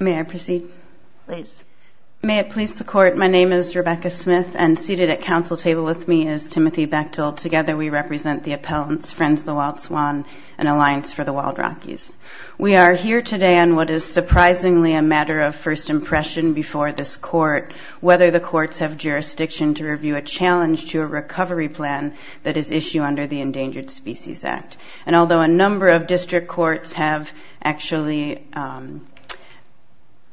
Rebecca Smith, Counsel Table with me is Timothy Bechtel. Together we represent the appellants, Friends of the Wild Swan and Alliance for the Wild Rockies. We are here today on what is surprisingly a matter of first impression before this court, whether the courts have jurisdiction to review a challenge to a recovery plan that is issued under the Endangered Species Act. And although a number of district courts have actually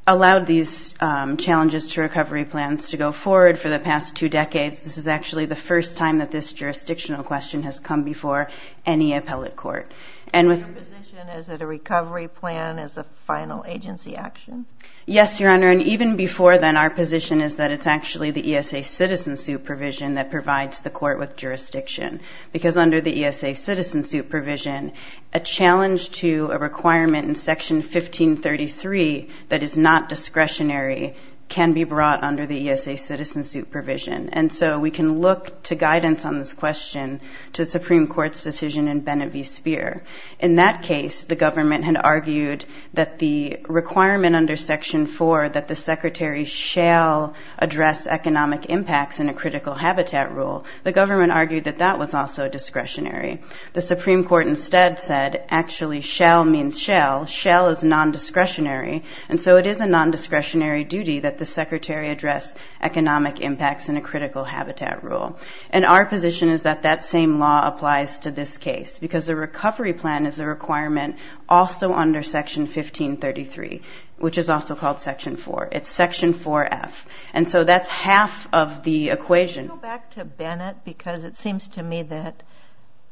allowed these challenges to recovery plans to go forward for the past two decades, this is actually the first time that this jurisdictional question has come before any appellate court. And with... Your position is that a recovery plan is a final agency action? Yes, Your Honor. And even before then, our position is that it's actually the ESA citizen suit provision that provides the court with jurisdiction. Because under the ESA citizen suit provision, a challenge to a requirement in Section 1533 that is not discretionary can be brought under the ESA citizen suit provision. And so we can look to guidance on this question to the Supreme Court's decision in Bene V. Speer. In that case, the government had argued that the requirement under Section 4 that the Secretary shall address economic impacts in a critical habitat rule, the government argued that that was also discretionary. The Supreme Court instead said, actually, shall means shall. Shall is non-discretionary. And so it is a non-discretionary duty that the Secretary address economic impacts in a critical habitat rule. And our position is that that same law applies to this case. Because a recovery plan is a requirement also under Section 1533, which is also called Section 4. It's Section 4F. And so that's half of the equation. I'll go back to Bennett because it seems to me that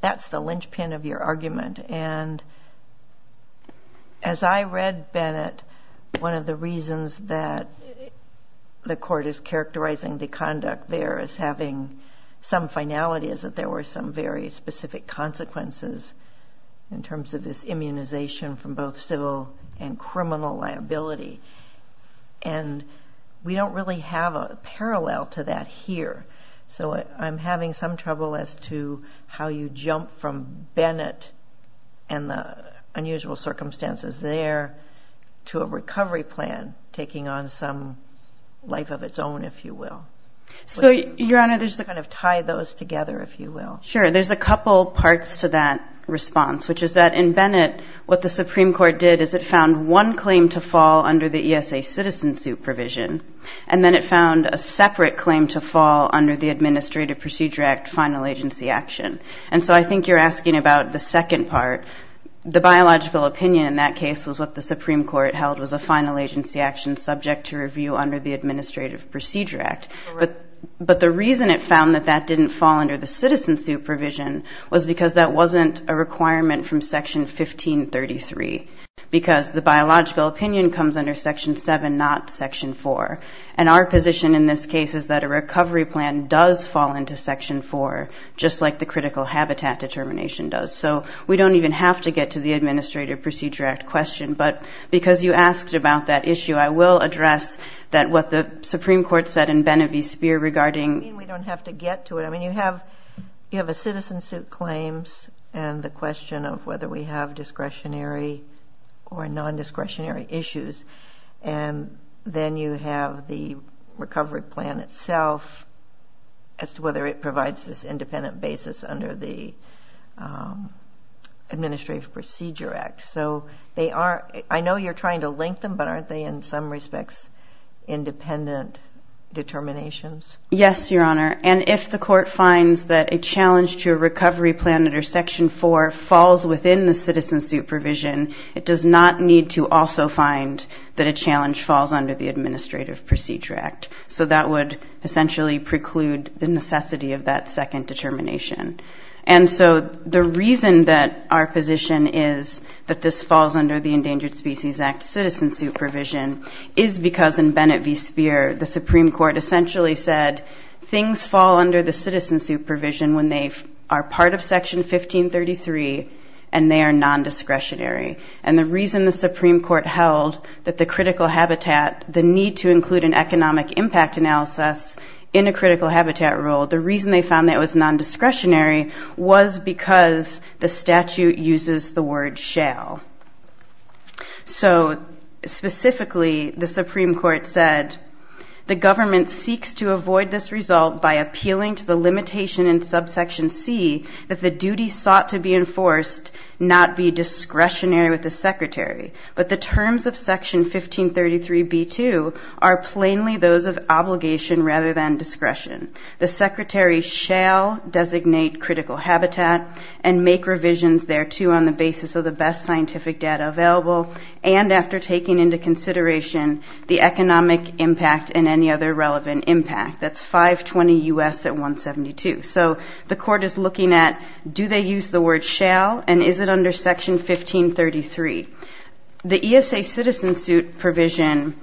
that's the linchpin of your argument. And as I read Bennett, one of the reasons that the court is characterizing the conduct there as having some finality is that there were some very specific consequences in terms of this immunization from both civil and criminal liability. And we don't really have a parallel to that here. So I'm having some trouble as to how you jump from Bennett and the unusual circumstances there to a recovery plan taking on some life of its own, if you will. So Your Honor, there's a kind of tie those together, if you will. Sure. There's a couple parts to that response, which is that in Bennett, what the Supreme Court did is it found one claim to fall under the ESA citizen suit provision. And then it found a separate claim to fall under the Administrative Procedure Act Final Agency Action. And so I think you're asking about the second part. The biological opinion in that case was what the Supreme Court held was a final agency action subject to review under the Administrative Procedure Act. But the reason it found that that didn't fall under the citizen suit provision was because that wasn't a requirement from Section 1533. Because the biological opinion comes under Section 7, not Section 4. And our position in this case is that a recovery plan does fall into Section 4, just like the critical habitat determination does. So we don't even have to get to the Administrative Procedure Act question. But because you asked about that issue, I will address that what the Supreme Court said in Bene v. Speer regarding... We don't have to get to it. I mean, you have a citizen suit claims and the question of whether we have discretionary or non-discretionary issues. And then you have the recovery plan itself as to whether it provides this independent basis under the Administrative Procedure Act. So they are... I know you're trying to link them, but aren't they in some respects independent determinations? Yes, Your Honor. And if the court finds that a challenge to a recovery plan under Section 4 falls within the citizen suit provision, it does not need to also find that a challenge falls under the Administrative Procedure Act. So that would essentially preclude the necessity of that second determination. And so the reason that our position is that this falls under the Endangered Species Act citizen suit provision is because in Bene v. Speer, the Supreme Court essentially said things fall under the citizen suit provision when they are part of Section 1533 and they are non-discretionary. And the reason the Supreme Court held that the critical habitat, the need to include an economic impact analysis in a critical habitat rule, the reason they found that it was non-discretionary was because the statute uses the word shall. So specifically, the Supreme Court said, the government seeks to avoid this result by appealing to the limitation in Subsection C that the duty sought to be enforced not be discretionary with the Secretary. But the terms of Section 1533b-2 are plainly those of obligation rather than discretion. The Secretary shall designate critical habitat and make revisions thereto on the basis of the best scientific data available and after taking into consideration the economic impact and any other relevant impact. That's 520 U.S. at 172. So the court is looking at do they use the word shall and is it under Section 1533? The ESA citizen suit provision,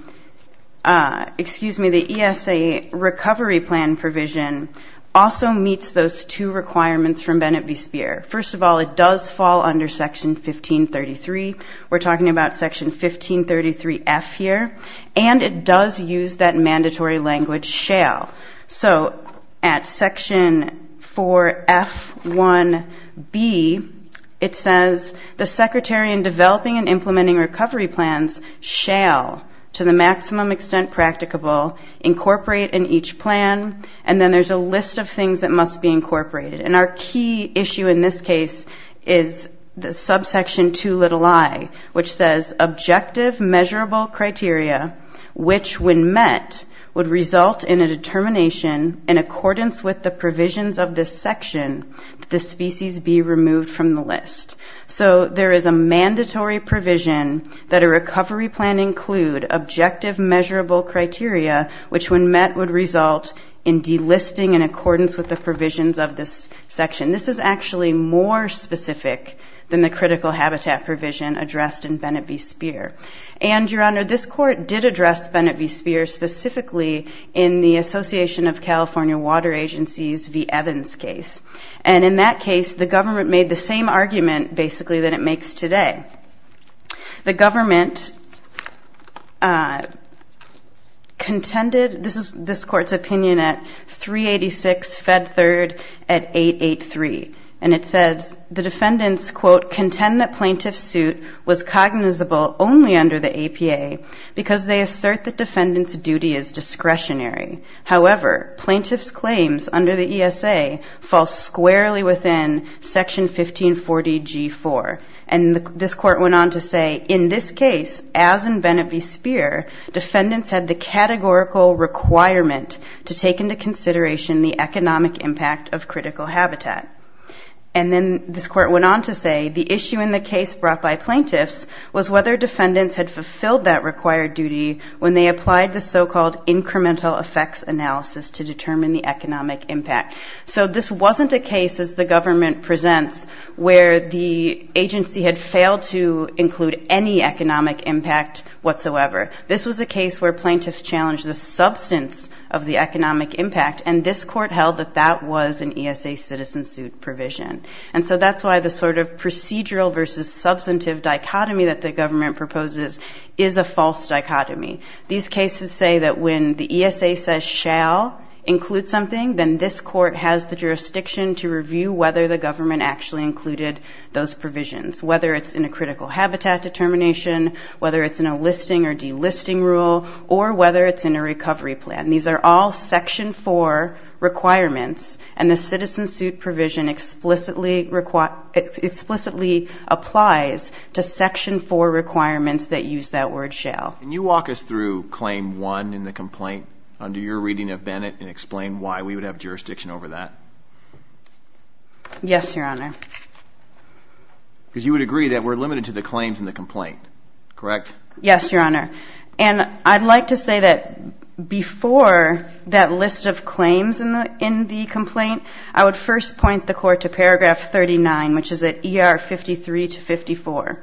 excuse me, the ESA recovery plan provision also meets those two requirements from Bene v. Speer. First of all, it does fall under Section 1533. We're talking about Section 1533f here. And it does use that mandatory language shall. So at Section 4f-1b, it says the Secretary in developing and implementing recovery plans shall to the maximum extent practicable incorporate in each plan. And then there's a list of things that must be incorporated. And our key issue in this case is the Subsection 2 little i, which says, objective measurable criteria, which when met, would result in a determination in accordance with the provisions of this section, the species be removed from the list. So there is a mandatory provision that a recovery plan include objective measurable criteria, which when met would result in delisting in accordance with the provisions of this section. This is actually more specific than the critical habitat provision addressed in Bene v. Speer. And Your Honor, this court did address Bene v. Speer specifically in the Association of California Water Agencies v. Evans case. And in that case, the government made the same argument basically that it makes today. The government contended, this is this court's opinion at 386 fed third at 883. And it says the defendants, quote, contend that plaintiff's suit was cognizable only under the APA because they assert that defendant's duty is discretionary. However, plaintiff's claims under the ESA fall squarely within Section 1540 G4. And this court went on to say in this case, as in Bene v. Speer, defendants had the categorical requirement to take into habitat. And then this court went on to say, the issue in the case brought by plaintiffs was whether defendants had fulfilled that required duty when they applied the so-called incremental effects analysis to determine the economic impact. So this wasn't a case, as the government presents, where the agency had failed to include any economic impact whatsoever. This was a case where plaintiffs challenged the substance of the economic impact. And this court held that that was an ESA citizen suit provision. And so that's why the sort of procedural versus substantive dichotomy that the government proposes is a false dichotomy. These cases say that when the ESA says shall include something, then this court has the jurisdiction to review whether the government actually included those provisions. Whether it's in a critical habitat determination, whether it's in a listing or delisting rule, or whether it's in a recovery plan. These are all Section 4 requirements, and the citizen suit provision explicitly applies to Section 4 requirements that use that word shall. Can you walk us through Claim 1 in the complaint, under your reading of Bennett, and explain why we would have jurisdiction over that? Yes, Your Honor. Because you would agree that we're limited to the claims in the complaint, correct? Yes, Your Honor. And I'd like to say that before that list of claims in the complaint, I would first point the court to paragraph 39, which is at ER 53 to 54.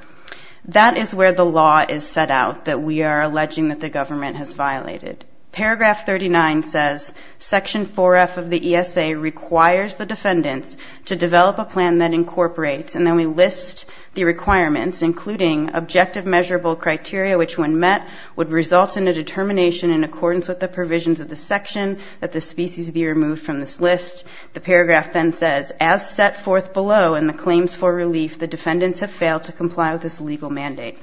That is where the law is set out that we are alleging that the government has violated. Paragraph 39 says, Section 4F of the ESA requires the defendants to develop a plan that incorporates, and then they list the requirements, including objective measurable criteria, which when met would result in a determination in accordance with the provisions of the section that the species be removed from this list. The paragraph then says, as set forth below in the claims for relief, the defendants have failed to comply with this legal mandate.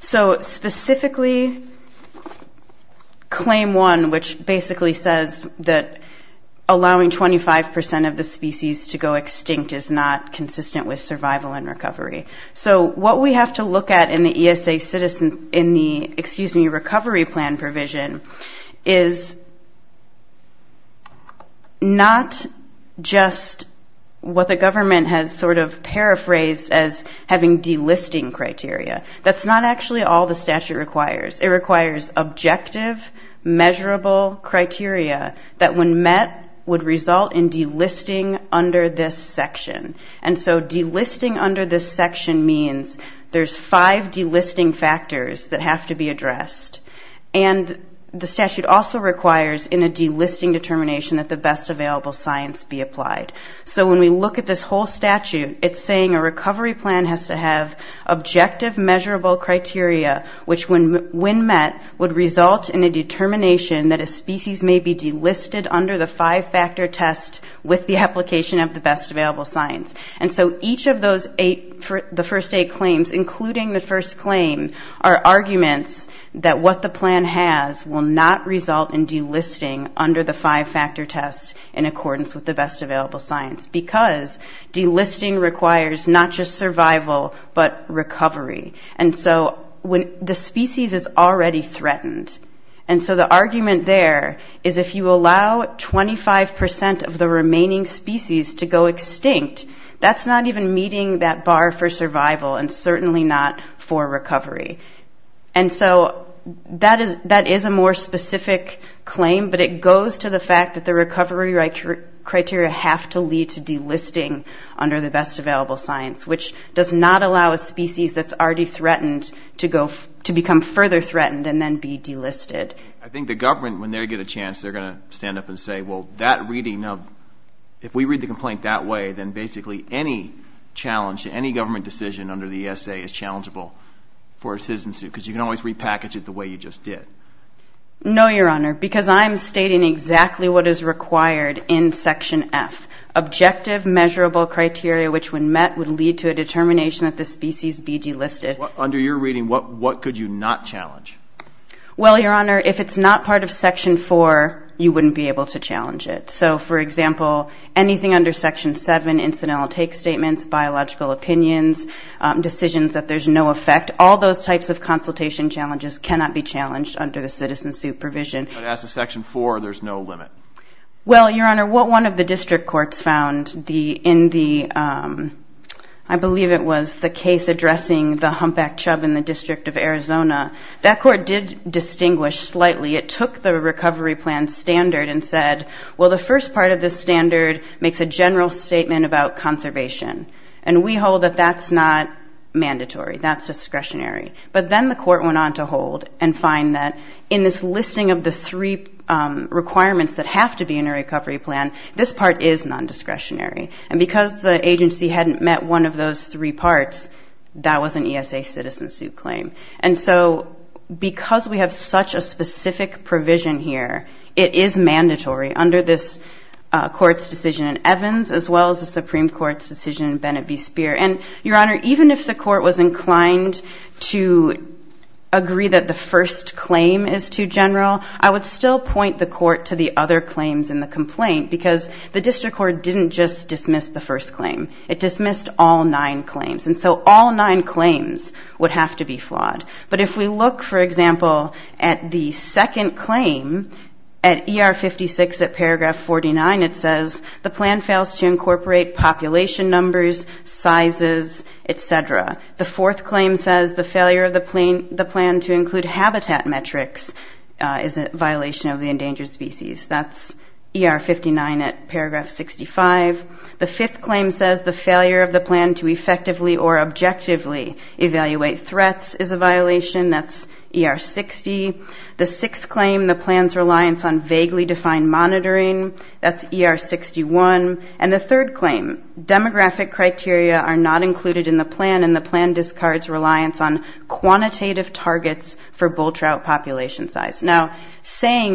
So specifically, Claim 1, which basically says that allowing 25% of the species to go into survival and recovery. So what we have to look at in the ESA citizen, in the, excuse me, recovery plan provision, is not just what the government has sort of paraphrased as having delisting criteria. That's not actually all the statute requires. It requires objective measurable criteria that when met would result in delisting under this section. And so delisting under this section means there's five delisting factors that have to be addressed. And the statute also requires in a delisting determination that the best available science be applied. So when we look at this whole statute, it's saying a recovery plan has to have objective measurable criteria, which when met would result in a determination that a species may be delisted under the five-factor test with the application of the best available science. And so each of those eight, the first eight claims, including the first claim, are arguments that what the plan has will not result in delisting under the five-factor test in accordance with the best available science. Because delisting requires not just survival, but recovery. And so when the species is already threatened, and so the argument there is if you allow 25% of the remaining species to go extinct, that's not even meeting that bar for survival and certainly not for recovery. And so that is a more specific claim, but it goes to the fact that the recovery criteria have to lead to delisting under the best available science, which does not allow a species that's already threatened to become further threatened and then be delisted. I think the government, when they get a chance, they're going to stand up and say, well, that reading of, if we read the complaint that way, then basically any challenge to any government decision under the ESA is challengeable for a citizen suit, because you can always repackage it the way you just did. No, Your Honor, because I'm stating exactly what is required in Section F. Objective measurable criteria, which when met would lead to a determination that the species be delisted. Under your reading, what could you not challenge? Well, Your Honor, if it's not part of Section 4, you wouldn't be able to challenge it. So, for example, anything under Section 7, incidental take statements, biological opinions, decisions that there's no effect, all those types of consultation challenges cannot be challenged under the citizen suit provision. But as to Section 4, there's no limit? Well, Your Honor, what one of the district courts found in the, I believe it was the Humpback Chubb in the District of Arizona, that court did distinguish slightly. It took the recovery plan standard and said, well, the first part of this standard makes a general statement about conservation. And we hold that that's not mandatory, that's discretionary. But then the court went on to hold and find that in this listing of the three requirements that have to be in a recovery plan, this part is non-discretionary. And because the agency hadn't met one of those three parts, that was an ESA citizen suit claim. And so, because we have such a specific provision here, it is mandatory under this court's decision in Evans as well as the Supreme Court's decision in Bennett v. Speer. And, Your Honor, even if the court was inclined to agree that the first claim is too general, I would still point the court to the other claims in the complaint because the district court didn't just dismiss the first claim. It dismissed all nine claims. And so all nine claims would have to be flawed. But if we look, for example, at the second claim, at ER 56 at paragraph 49, it says, the plan fails to incorporate population numbers, sizes, etc. The fourth claim says the failure of the plan to include habitat metrics is a violation of the endangered species. That's ER 59 at paragraph 65. The fifth claim says the failure of the plan to effectively or objectively evaluate threats is a violation. That's ER 60. The sixth claim, the plan's reliance on vaguely defined monitoring. That's ER 61. And the third claim, demographic criteria are not included in the plan and the plan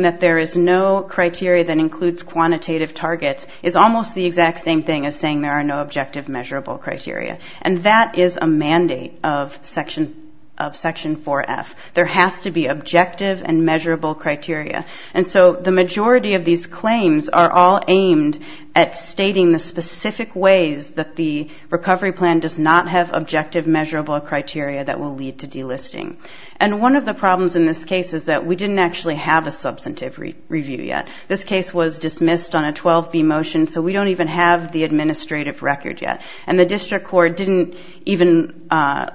that there is no criteria that includes quantitative targets is almost the exact same thing as saying there are no objective measurable criteria. And that is a mandate of Section 4F. There has to be objective and measurable criteria. And so the majority of these claims are all aimed at stating the specific ways that the recovery plan does not have objective measurable criteria that will lead to delisting. And one of the problems in this case is that we didn't actually have a substantive review yet. This case was dismissed on a 12B motion, so we don't even have the administrative record yet. And the district court didn't even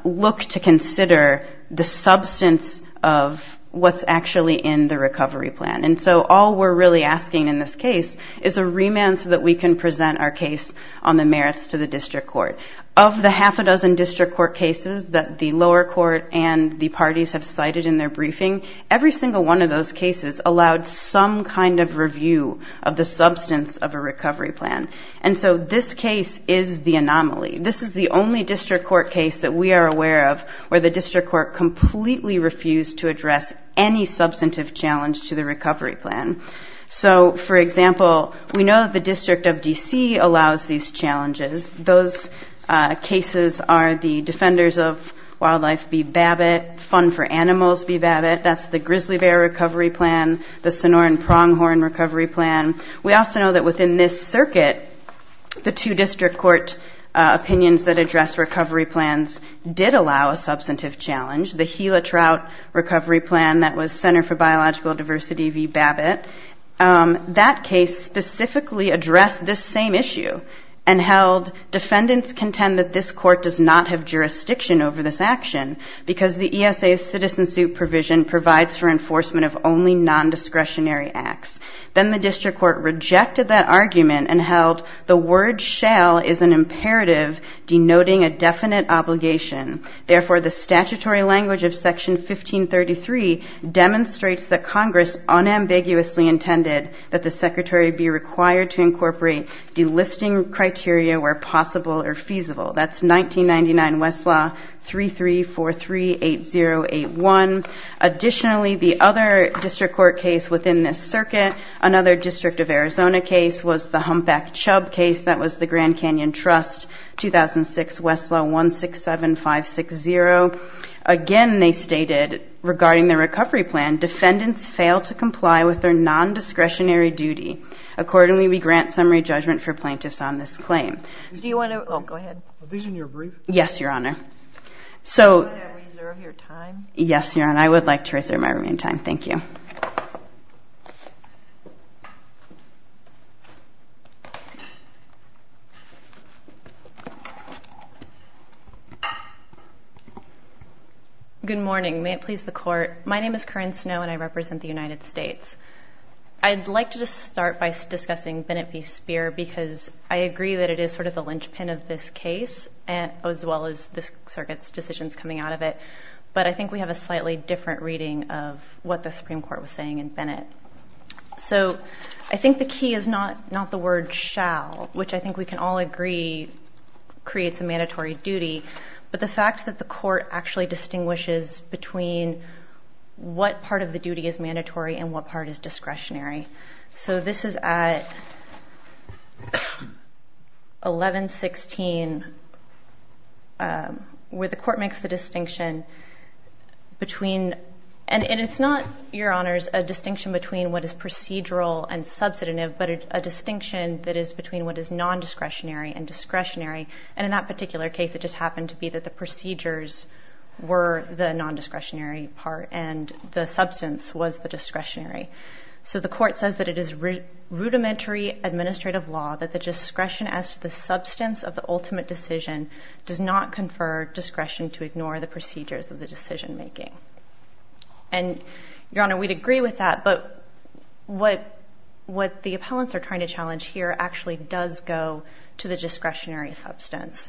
look to consider the substance of what's actually in the recovery plan. And so all we're really asking in this case is a remand so that we can present our case on the merits to the district court. Of the half a dozen district court cases that the lower court and the parties have cited in their briefing, every single one of those cases allowed some kind of review of the substance of a recovery plan. And so this case is the anomaly. This is the only district court case that we are aware of where the district court completely refused to address any substantive challenge to the recovery plan. So, for example, we know that the District of D.C. allows these challenges. Those cases are the defenders of Wildlife Bee Babbitt, Fun for Animals Bee Babbitt. That's the grizzly bear recovery plan, the Sonoran pronghorn recovery plan. We also know that within this circuit, the two district court opinions that address recovery plans did allow a substantive challenge. The Gila Trout recovery plan that was Center for Biological Diversity Bee Babbitt. That case specifically addressed this same issue and held defendants contend that this court does not have jurisdiction over this action because the ESA's citizen suit provision provides for enforcement of only non-discretionary acts. Then the district court rejected that argument and held the word shall is an imperative denoting a definite obligation. Therefore, the statutory language of section 1533 demonstrates that Congress unambiguously intended that the secretary be required to incorporate delisting criteria where possible or feasible. That's 1999 Westlaw 33438081. Additionally, the other district court case within this circuit, another District of Arizona case was the Humpback Chubb case that was the Grand Canyon Trust, 2006 Westlaw 167560. Again, they stated regarding the recovery plan, defendants fail to comply with their non-discretionary duty. Accordingly, we grant summary judgment for plaintiffs on this claim. Good morning. May it please the court. My name is Corinne Snow and I represent the United States Supreme Court. I'm here to discuss the case of Bennett v. Speer because I agree that it is sort of the linchpin of this case as well as this circuit's decisions coming out of it. But I think we have a slightly different reading of what the Supreme Court was saying in Bennett. So I think the key is not the word shall, which I think we can all agree creates a mandatory duty. But the fact that the court actually distinguishes between what part of the duty is mandatory and what part is discretionary. So this is at 1116 where the court makes the distinction between, and it's not, your honors, a distinction between what is procedural and substantive, but a distinction that is between what is non-discretionary and discretionary. And in that particular case, it just happened to be that the procedures were the non-discretionary part and the substance was the discretionary. So the court says that it is rudimentary administrative law that the discretion as to the substance of the ultimate decision does not confer discretion to ignore the procedures of the decision making. And your honor, we'd agree with that, but what the appellants are trying to challenge here actually does go to the discretionary substance.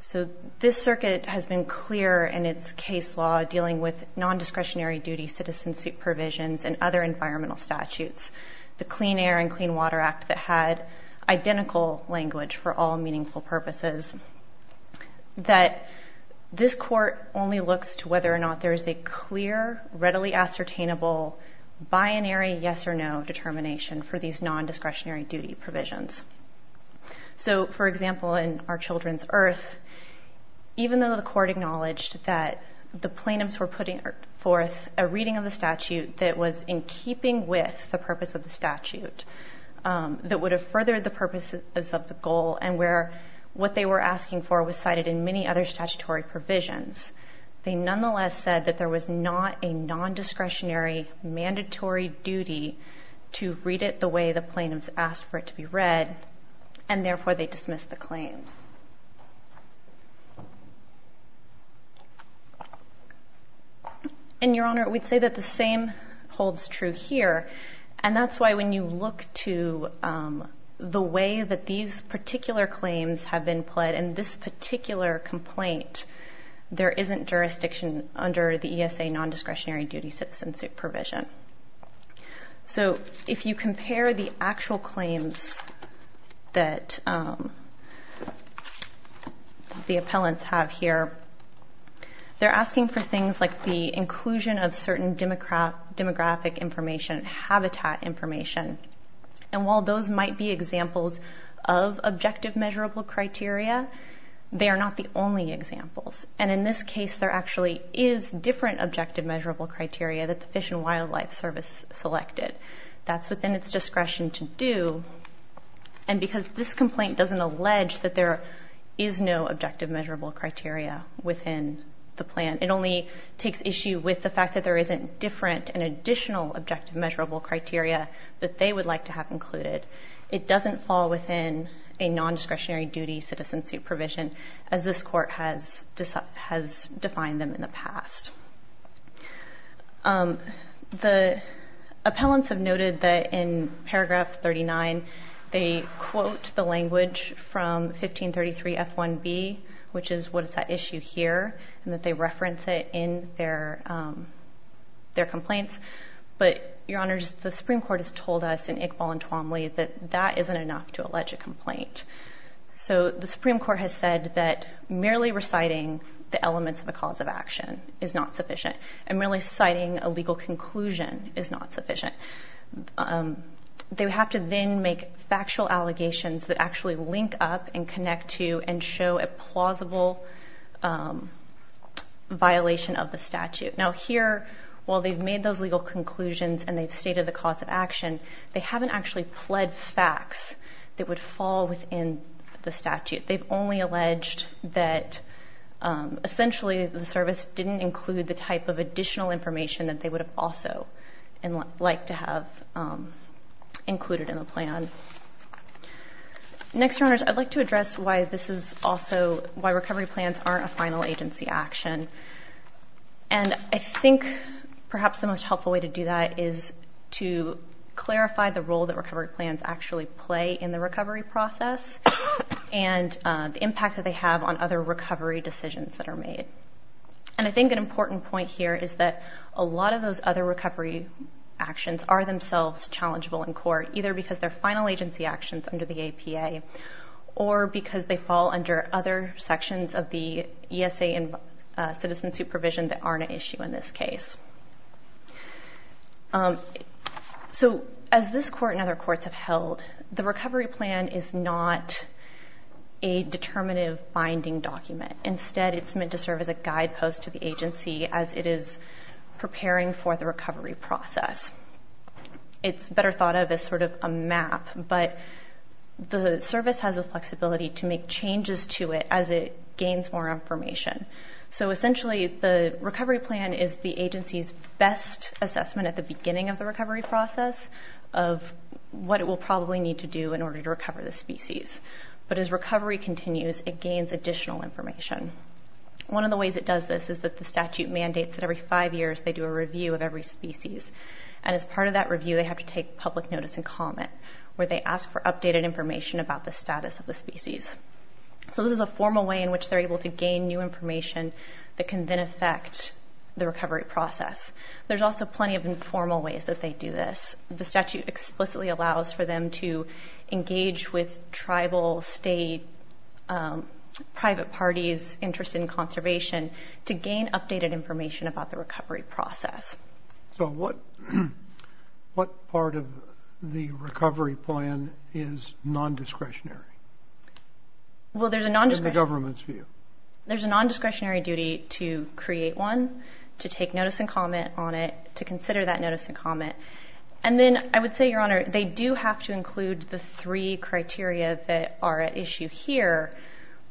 So this circuit has been clear in its case law dealing with non-discretionary duty, citizenship provisions, and other environmental statutes. The Clean Air and Clean Water Act that had identical language for all meaningful purposes that this court only looks to whether or not there is a clear, readily ascertainable binary yes or no determination for these non-discretionary duty provisions. So, for example, in Our Children's Earth, even though the court acknowledged that the plaintiffs were putting forth a reading of the statute that was in keeping with the purpose of the statute, that would have furthered the purposes of the goal and where what they were asking for was cited in many other statutory provisions. They nonetheless said that there was not a non-discretionary mandatory duty to read it the way the plaintiffs asked for it to be read, and therefore they dismissed the claims. And your honor, we'd say that the same holds true here, and that's why when you look to the way that these particular claims have been pled in this particular complaint there isn't jurisdiction under the ESA non-discretionary duty citizenship provision. So, if you compare the actual claims that the appellants have here, they're asking for things like the inclusion of certain demographic information, habitat information, and while those might be examples of objective measurable criteria, they are not the only examples, and in this case there actually is different objective measurable criteria that the Fish and Wildlife Service selected. That's within its discretion to do, and because this complaint doesn't allege that there is no objective measurable criteria within the plan, it only takes issue with the fact that there isn't different and additional objective measurable criteria that they would like to have included. It doesn't fall within a non-discretionary duty citizenship provision as this court has defined them in the past. The appellants have noted that in paragraph 39 they quote the language from 1533 F1B, which is what is at issue here, and that they voluntarily that that isn't enough to allege a complaint. So, the Supreme Court has said that merely reciting the elements of a cause of action is not sufficient, and merely citing a legal conclusion is not sufficient. They would have to then make factual allegations that actually link up and connect to and show a plausible violation of the statute. Now here, while they've made those legal conclusions and they've stated the cause of action, they haven't actually pled facts that would fall within the statute. They've only alleged that essentially the service didn't include the type of additional information that they would have also liked to have included in the plan. Next, Your Honors, I'd like to address why this is also why recovery plans aren't a final agency action, and I think perhaps the most important role that recovery plans actually play in the recovery process, and the impact that they have on other recovery decisions that are made. And I think an important point here is that a lot of those other recovery actions are themselves challengeable in court, either because they're final agency actions under the APA, or because they fall under other sections of the ESA and citizen supervision that aren't an issue in this case. So, as this court and other courts have held, the recovery plan is not a determinative binding document. Instead, it's meant to serve as a guidepost to the agency as it is preparing for the recovery process. It's better thought of as sort of a map, but the service has the flexibility to make changes to it as it gains more information. So essentially, the recovery plan is the agency's best assessment at the beginning of the recovery process of what it will probably need to do in order to recover the species. But as recovery continues, it gains additional information. One of the ways it does this is that the statute mandates that every five years they do a review of every species, and as part of that review they have to take public notice and comment, where they ask for updated information about the status of the species. So this is a formal way in which they're able to gain new information that can then affect the recovery process. There's also plenty of informal ways that they do this. The statute explicitly allows for them to engage with tribal, state, private parties interested in conservation to gain updated information about the recovery process. So what part of the recovery plan is non-discretionary in the government's view? There's a non-discretionary duty to create one, to take notice and comment on it, to consider that notice and comment. And then I would say, Your Honor, they do have to include the three criteria that are at issue here,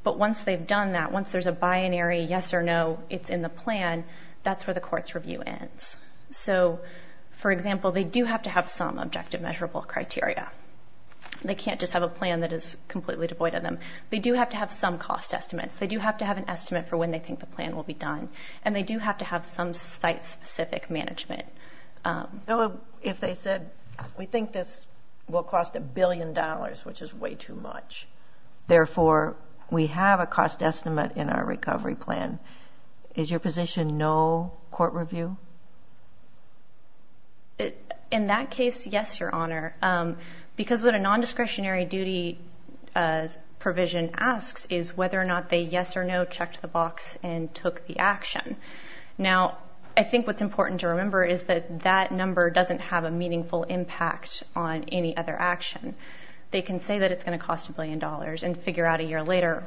but once they've done that, once there's a binary yes or no, it's in the plan, that's where the court's review ends. So, for example, they do have to have some objective measurable criteria. They can't just have a plan that they do have to have an estimate for when they think the plan will be done. And they do have to have some site-specific management. If they said, we think this will cost a billion dollars, which is way too much, therefore we have a cost estimate in our recovery plan, is your position no court review? In that case, yes, Your Honor. Because what a non-discretionary duty provision asks is whether or not they yes or no checked the box and took the action. Now, I think what's important to remember is that that number doesn't have a meaningful impact on any other action. They can say that it's going to cost a billion dollars and figure out a year later,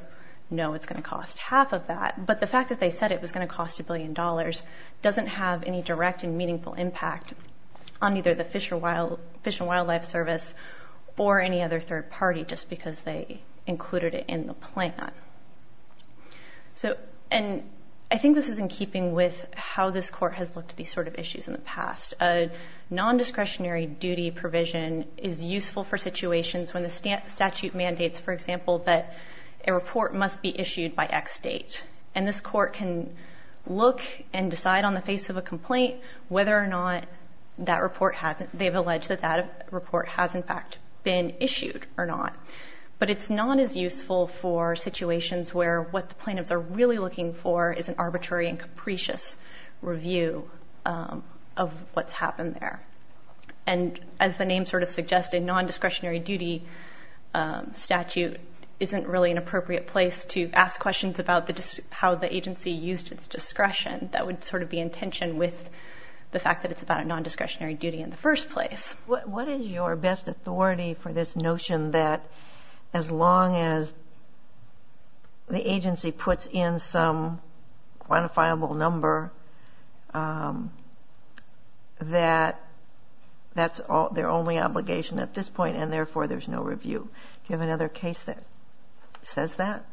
no, it's going to cost half of that. But the fact that they said it was going to cost a billion dollars doesn't have any direct and meaningful impact on either the Fish and Wildlife Service or any other third party just because they included it in the plan. I think this is in keeping with how this Court has looked at these sort of issues in the past. A non-discretionary duty provision is useful for situations when the statute mandates, for example, that a report must be issued by X date. And this Court can look and decide on the face of a complaint whether or not that report has, they've alleged that that report has in fact been issued or not. But it's not as useful for situations where what the plaintiffs are really looking for is an arbitrary and capricious review of what's happened there. And as the name sort of suggests, a non-discretionary duty statute isn't really an appropriate place to ask questions about how the agency used its discretion. That would sort of be in tension with the fact that it's about a non-discretionary duty in the first place. What is your best authority for this notion that as long as the agency puts in some quantifiable number that that's their only obligation at this point and therefore there's no review? Do you have another case that says that?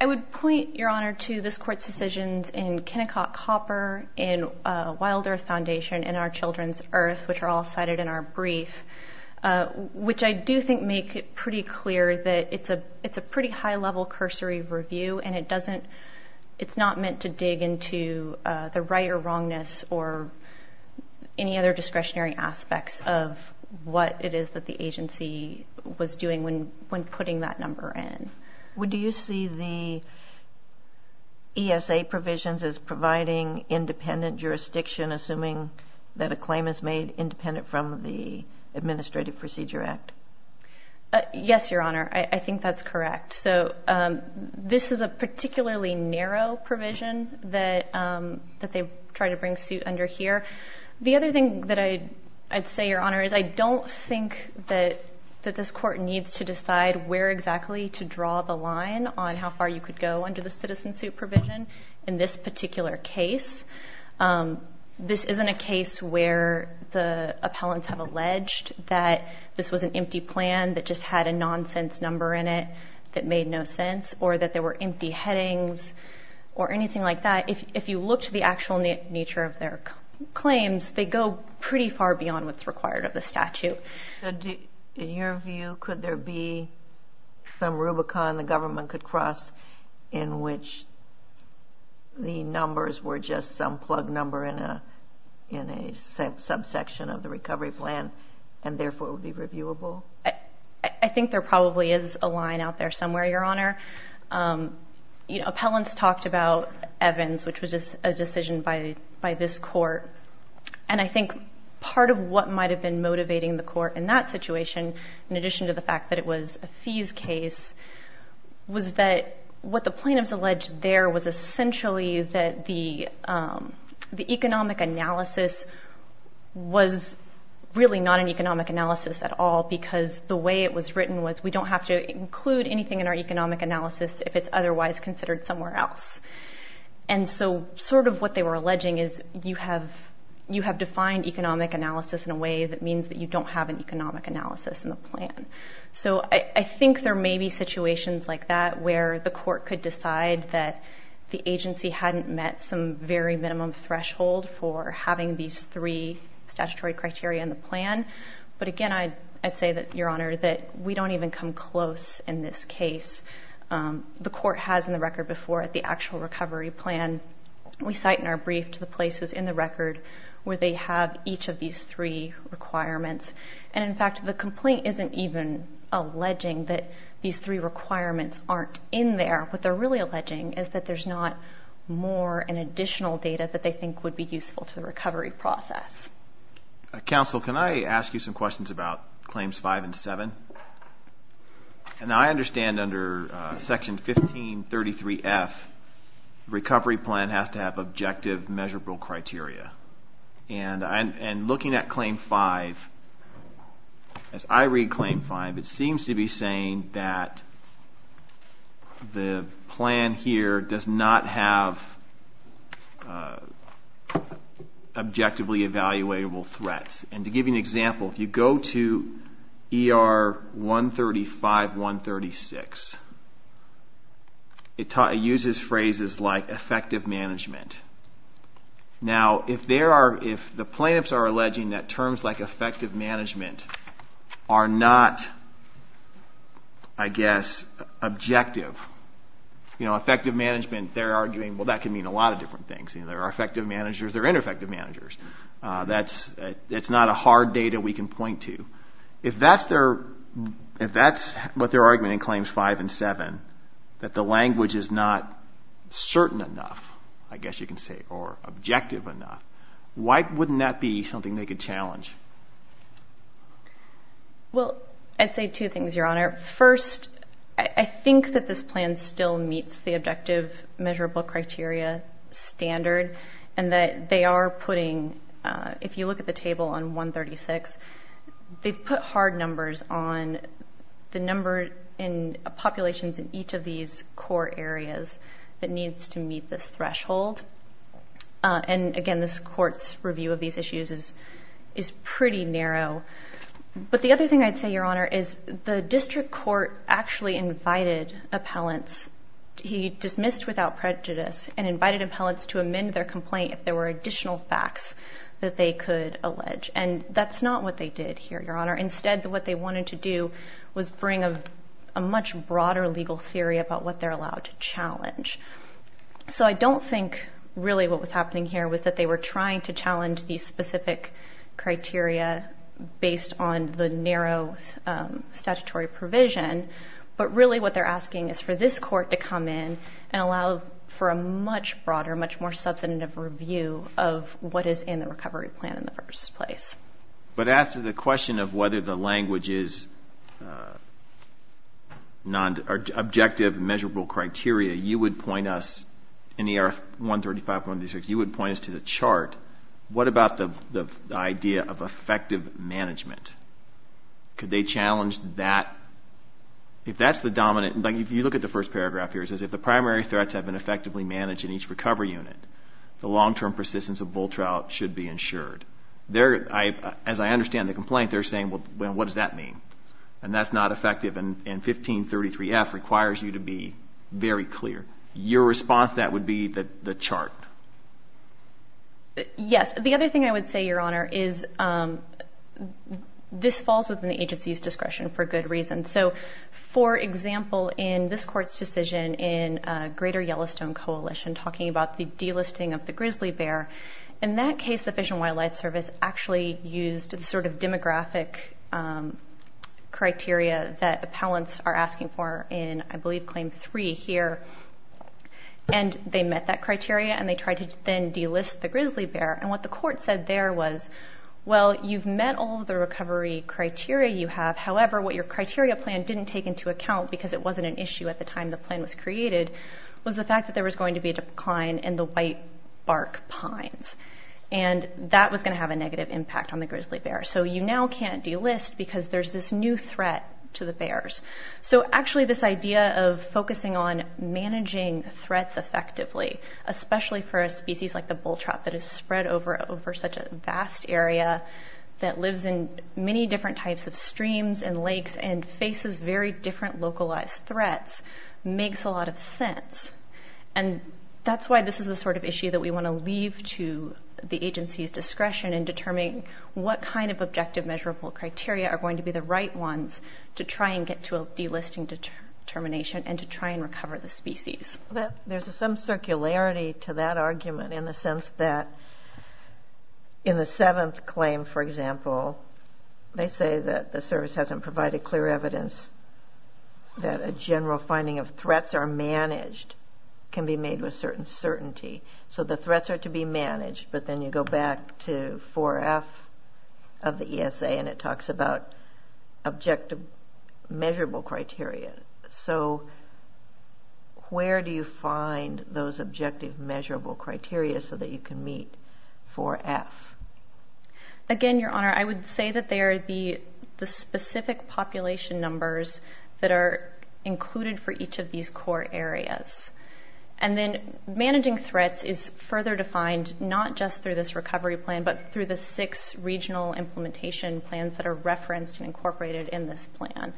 I would point, Your Honor, to this Court's decisions in Kennecott Copper, in Wild Earth Foundation, in Our Children's Earth, which are all cited in our brief, which I do think make it pretty clear that it's a pretty high level cursory review and it doesn't, it's not meant to dig into the right or wrongness or any other discretionary aspects of what it is that the agency was doing when putting that number in. Would you see the ESA provisions as providing independent jurisdiction assuming that a claim is made independent from the Administrative Procedure Act? Yes, Your Honor. I think that's correct. So this is a particularly narrow provision that they try to bring suit under here. The other thing that I'd say, Your Honor, is I don't think that this Court needs to decide where exactly to draw the line on how far you could go under the citizen suit provision in this particular case. This isn't a case where the appellants have alleged that this was an empty plan that just had a nonsense number in it that made no sense or that there were empty headings or anything like that. If you look to the actual nature of their claims, they go pretty far beyond what's required of the plaintiff. In your view, could there be some Rubicon the government could cross in which the numbers were just some plug number in a subsection of the recovery plan and therefore it would be reviewable? I think there probably is a line out there somewhere, Your Honor. Appellants talked about Evans, which was a decision by this Court, and I think part of what might have been motivating the Court in that situation, in addition to the fact that it was a fees case, was that what the plaintiffs alleged there was essentially that the economic analysis was really not an economic analysis at all because the way it was written was we don't have to include anything in our economic analysis if it's otherwise considered somewhere else. Sort of what they were alleging is you have defined economic analysis in a way that means that you don't have an economic analysis in the plan. So I think there may be situations like that where the Court could decide that the agency hadn't met some very minimum threshold for having these three statutory criteria in the plan. But again, I'd say that, Your Honor, that we don't even come close in this case. The Court has in the record before at the actual recovery plan, we cite in our brief to the places in the record where they have each of these three requirements. And in fact, the complaint isn't even alleging that these three requirements aren't in there. What they're really alleging is that there's not more and additional data that they think would be useful to the recovery process. Counsel, can I ask you some questions about claims 5 and 7? And I understand under section 1533F, recovery plan has to have objective measurable criteria. And I understand that and looking at claim 5, as I read claim 5, it seems to be saying that the plan here does not have objectively evaluable threats. And to give you an example, if you go to ER 135, 136, it uses phrases like effective management. Now if there are, if the plaintiffs are under alleging that terms like effective management are not, I guess, objective, you know, effective management, they're arguing, well, that can mean a lot of different things. You know, there are effective managers, there are ineffective managers. That's, it's not a hard data we can point to. If that's their, if that's what they're arguing in claims 5 and 7, that the language is not certain enough, I guess you can say, or objective enough, why wouldn't that be something they could challenge? Well, I'd say two things, Your Honor. First, I think that this plan still meets the objective measurable criteria standard and that they are putting, if you look at the table on 136, they've put hard numbers on the number in populations in each of these core areas that needs to meet this threshold. And again, this court's review of these issues is pretty narrow. But the other thing I'd say, Your Honor, is the district court actually invited appellants. He dismissed without prejudice and invited appellants to amend their complaint if there were additional facts that they could allege. And that's not what they did here, Your Honor. Instead, what they wanted to do was bring a much broader legal theory about what they're allowed to challenge. So I don't think really what was happening here was that they were trying to challenge these specific criteria based on the narrow statutory provision. But really what they're asking is for this court to come in and allow for a much broader, much more substantive review of what is in the recovery plan in the first place. But as to the question of whether the language is objective measurable criteria, you would point us, in the AR 135, you would point us to the chart. What about the idea of effective management? Could they challenge that? If that's the dominant, like if you look at the first paragraph here, it says if the primary threats have been effectively managed in each recovery unit, the long-term persistence of bull trout should be ensured. As I understand the complaint, they're saying, well, what does that mean? And that's not going to be very clear. Your response to that would be the chart. Yes. The other thing I would say, Your Honor, is this falls within the agency's discretion for good reason. So for example, in this court's decision in Greater Yellowstone Coalition talking about the delisting of the grizzly bear, in that case the Fish and Wildlife Service actually used the sort of demographic criteria that appellants are asking for in, I believe, item three here. And they met that criteria, and they tried to then delist the grizzly bear. And what the court said there was, well, you've met all of the recovery criteria you have. However, what your criteria plan didn't take into account, because it wasn't an issue at the time the plan was created, was the fact that there was going to be a decline in the whitebark pines. And that was going to have a negative impact on the grizzly bear. So you now can't delist because there's this new threat to the bears. So actually, this idea of focusing on managing threats effectively, especially for a species like the bull trout that is spread over such a vast area that lives in many different types of streams and lakes and faces very different localized threats, makes a lot of sense. And that's why this is the sort of issue that we want to leave to the agency's discretion in determining what kind of objective measurable criteria are going to be the right ones to try and get to a delisting determination and to try and recover the species. There's some circularity to that argument in the sense that in the seventh claim, for example, they say that the service hasn't provided clear evidence that a general finding of threats are managed can be made with certain certainty. So the threats are to be managed, but then you go back to 4F of the ESA and it talks about objective measurable criteria. So where do you find those objective measurable criteria so that you can meet 4F? Again, Your Honor, I would say that they are the specific population numbers that are included for each of these core areas. And then managing threats is further defined not just through this recovery plan, but through the six regional implementation plans that are referenced and incorporated in this plan.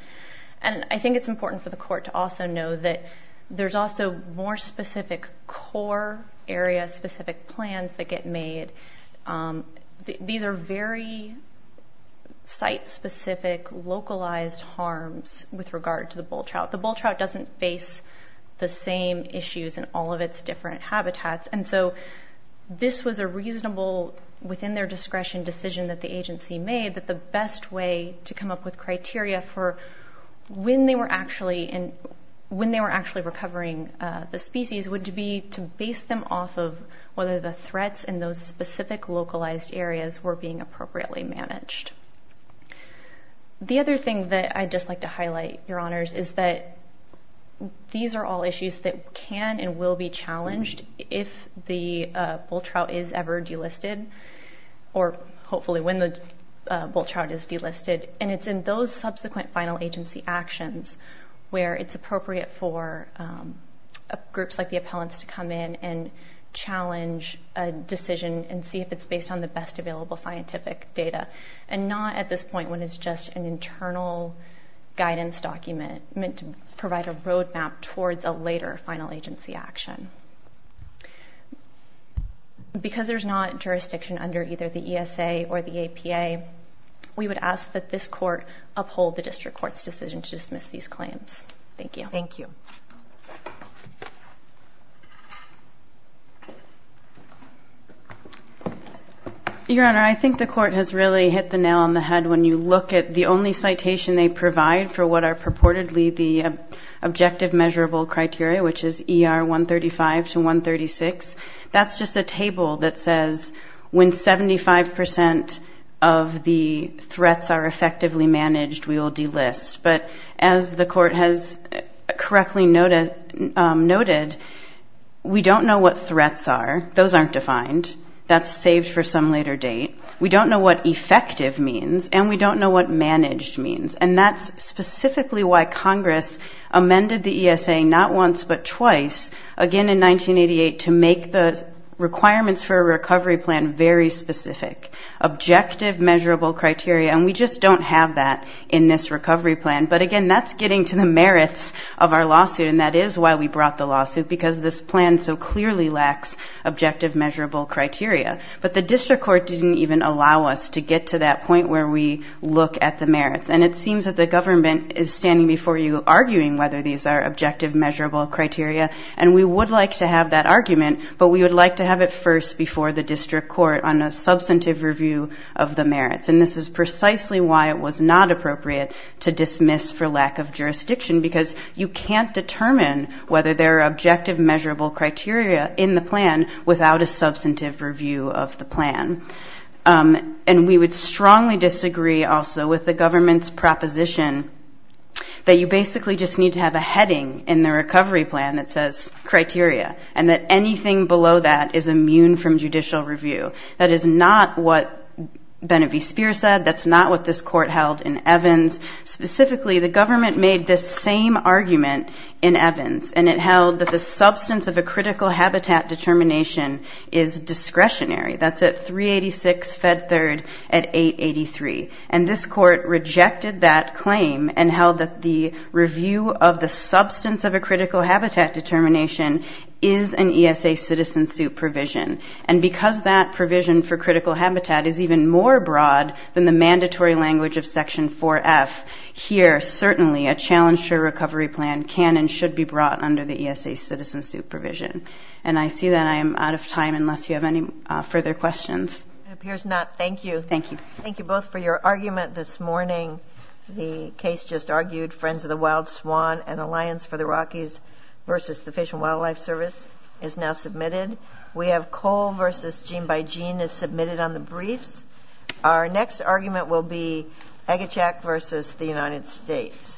And I think it's important for the court to also know that there's also more specific core area specific plans that get made. These are very site specific localized harms with regard to the bull trout. The bull trout doesn't face the same issues in all of its different habitats. And so this was a reasonable within their discretion decision that the agency made that the best way to come up with criteria for when they were actually recovering the species would be to base them off of whether the threats in those specific localized areas were being appropriately managed. The other thing that I'd just like to highlight, Your Honors, is that these are all issues that can and will be challenged if the bull trout is ever delisted, or hopefully when the bull trout is delisted. And it's in those subsequent final agency actions where it's appropriate for groups like the appellants to come in and challenge a decision and see if it's based on the best available scientific data, and not at this point when it's just an internal guidance document meant to provide a roadmap towards a later final agency action. Because there's not jurisdiction under either the ESA or the APA, we would ask that this court uphold the district court's decision to dismiss these claims. Thank you. Your Honor, I think the court has really hit the nail on the head when you look at the only citation they provide for what are purportedly the objective measurable criteria, which is ER 135 to 136. That's just a table that says when 75% of the threats are effectively managed, we will delist. But as the court has correctly noted, we don't know what threats are. Those aren't defined. That's saved for some later date. We don't know what effective means, and we don't know what managed means. And that's specifically why Congress amended the ESA not once but twice, again in 1988, to make the requirements for a recovery plan very specific. Objective measurable criteria, and we just don't have that in this recovery plan. But again, that's getting to the merits of our lawsuit, and that is why we brought the lawsuit, because this plan so clearly lacks objective measurable criteria. But the district court didn't even allow us to get to that point where we look at the merits. And it seems that the government is standing before you arguing whether these are objective measurable criteria, and we would like to have that argument, but we would like to have it first before the district court on a substantive review of the merits. And this is precisely why it was not appropriate to dismiss for lack of jurisdiction, because you can't determine whether there are objective measurable criteria in the plan without a substantive review of the plan. And we would strongly disagree also with the government's proposition that you basically just need to have a heading in the recovery plan that says criteria, and that anything below that is immune from judicial review. That is not what Bene V. Speer said. That's not what this court held in Evans. Specifically, the government made this same argument in Evans, and it held that the substance of a critical habitat determination is discretionary. That's at 386 Fed Third at 883. And this court rejected that claim and held that the review of the substance of a critical habitat determination is an ESA citizen suit provision. And because that provision for critical habitat is even more broad than the mandatory language of the plan, can and should be brought under the ESA citizen supervision. And I see that I am out of time unless you have any further questions. It appears not. Thank you. Thank you. Thank you both for your argument this morning. The case just argued, Friends of the Wild Swan, an alliance for the Rockies versus the Fish and Wildlife Service is now submitted. We have Cole versus Gene by Gene is submitted on the briefs. Our next argument will be Agachak versus the United States.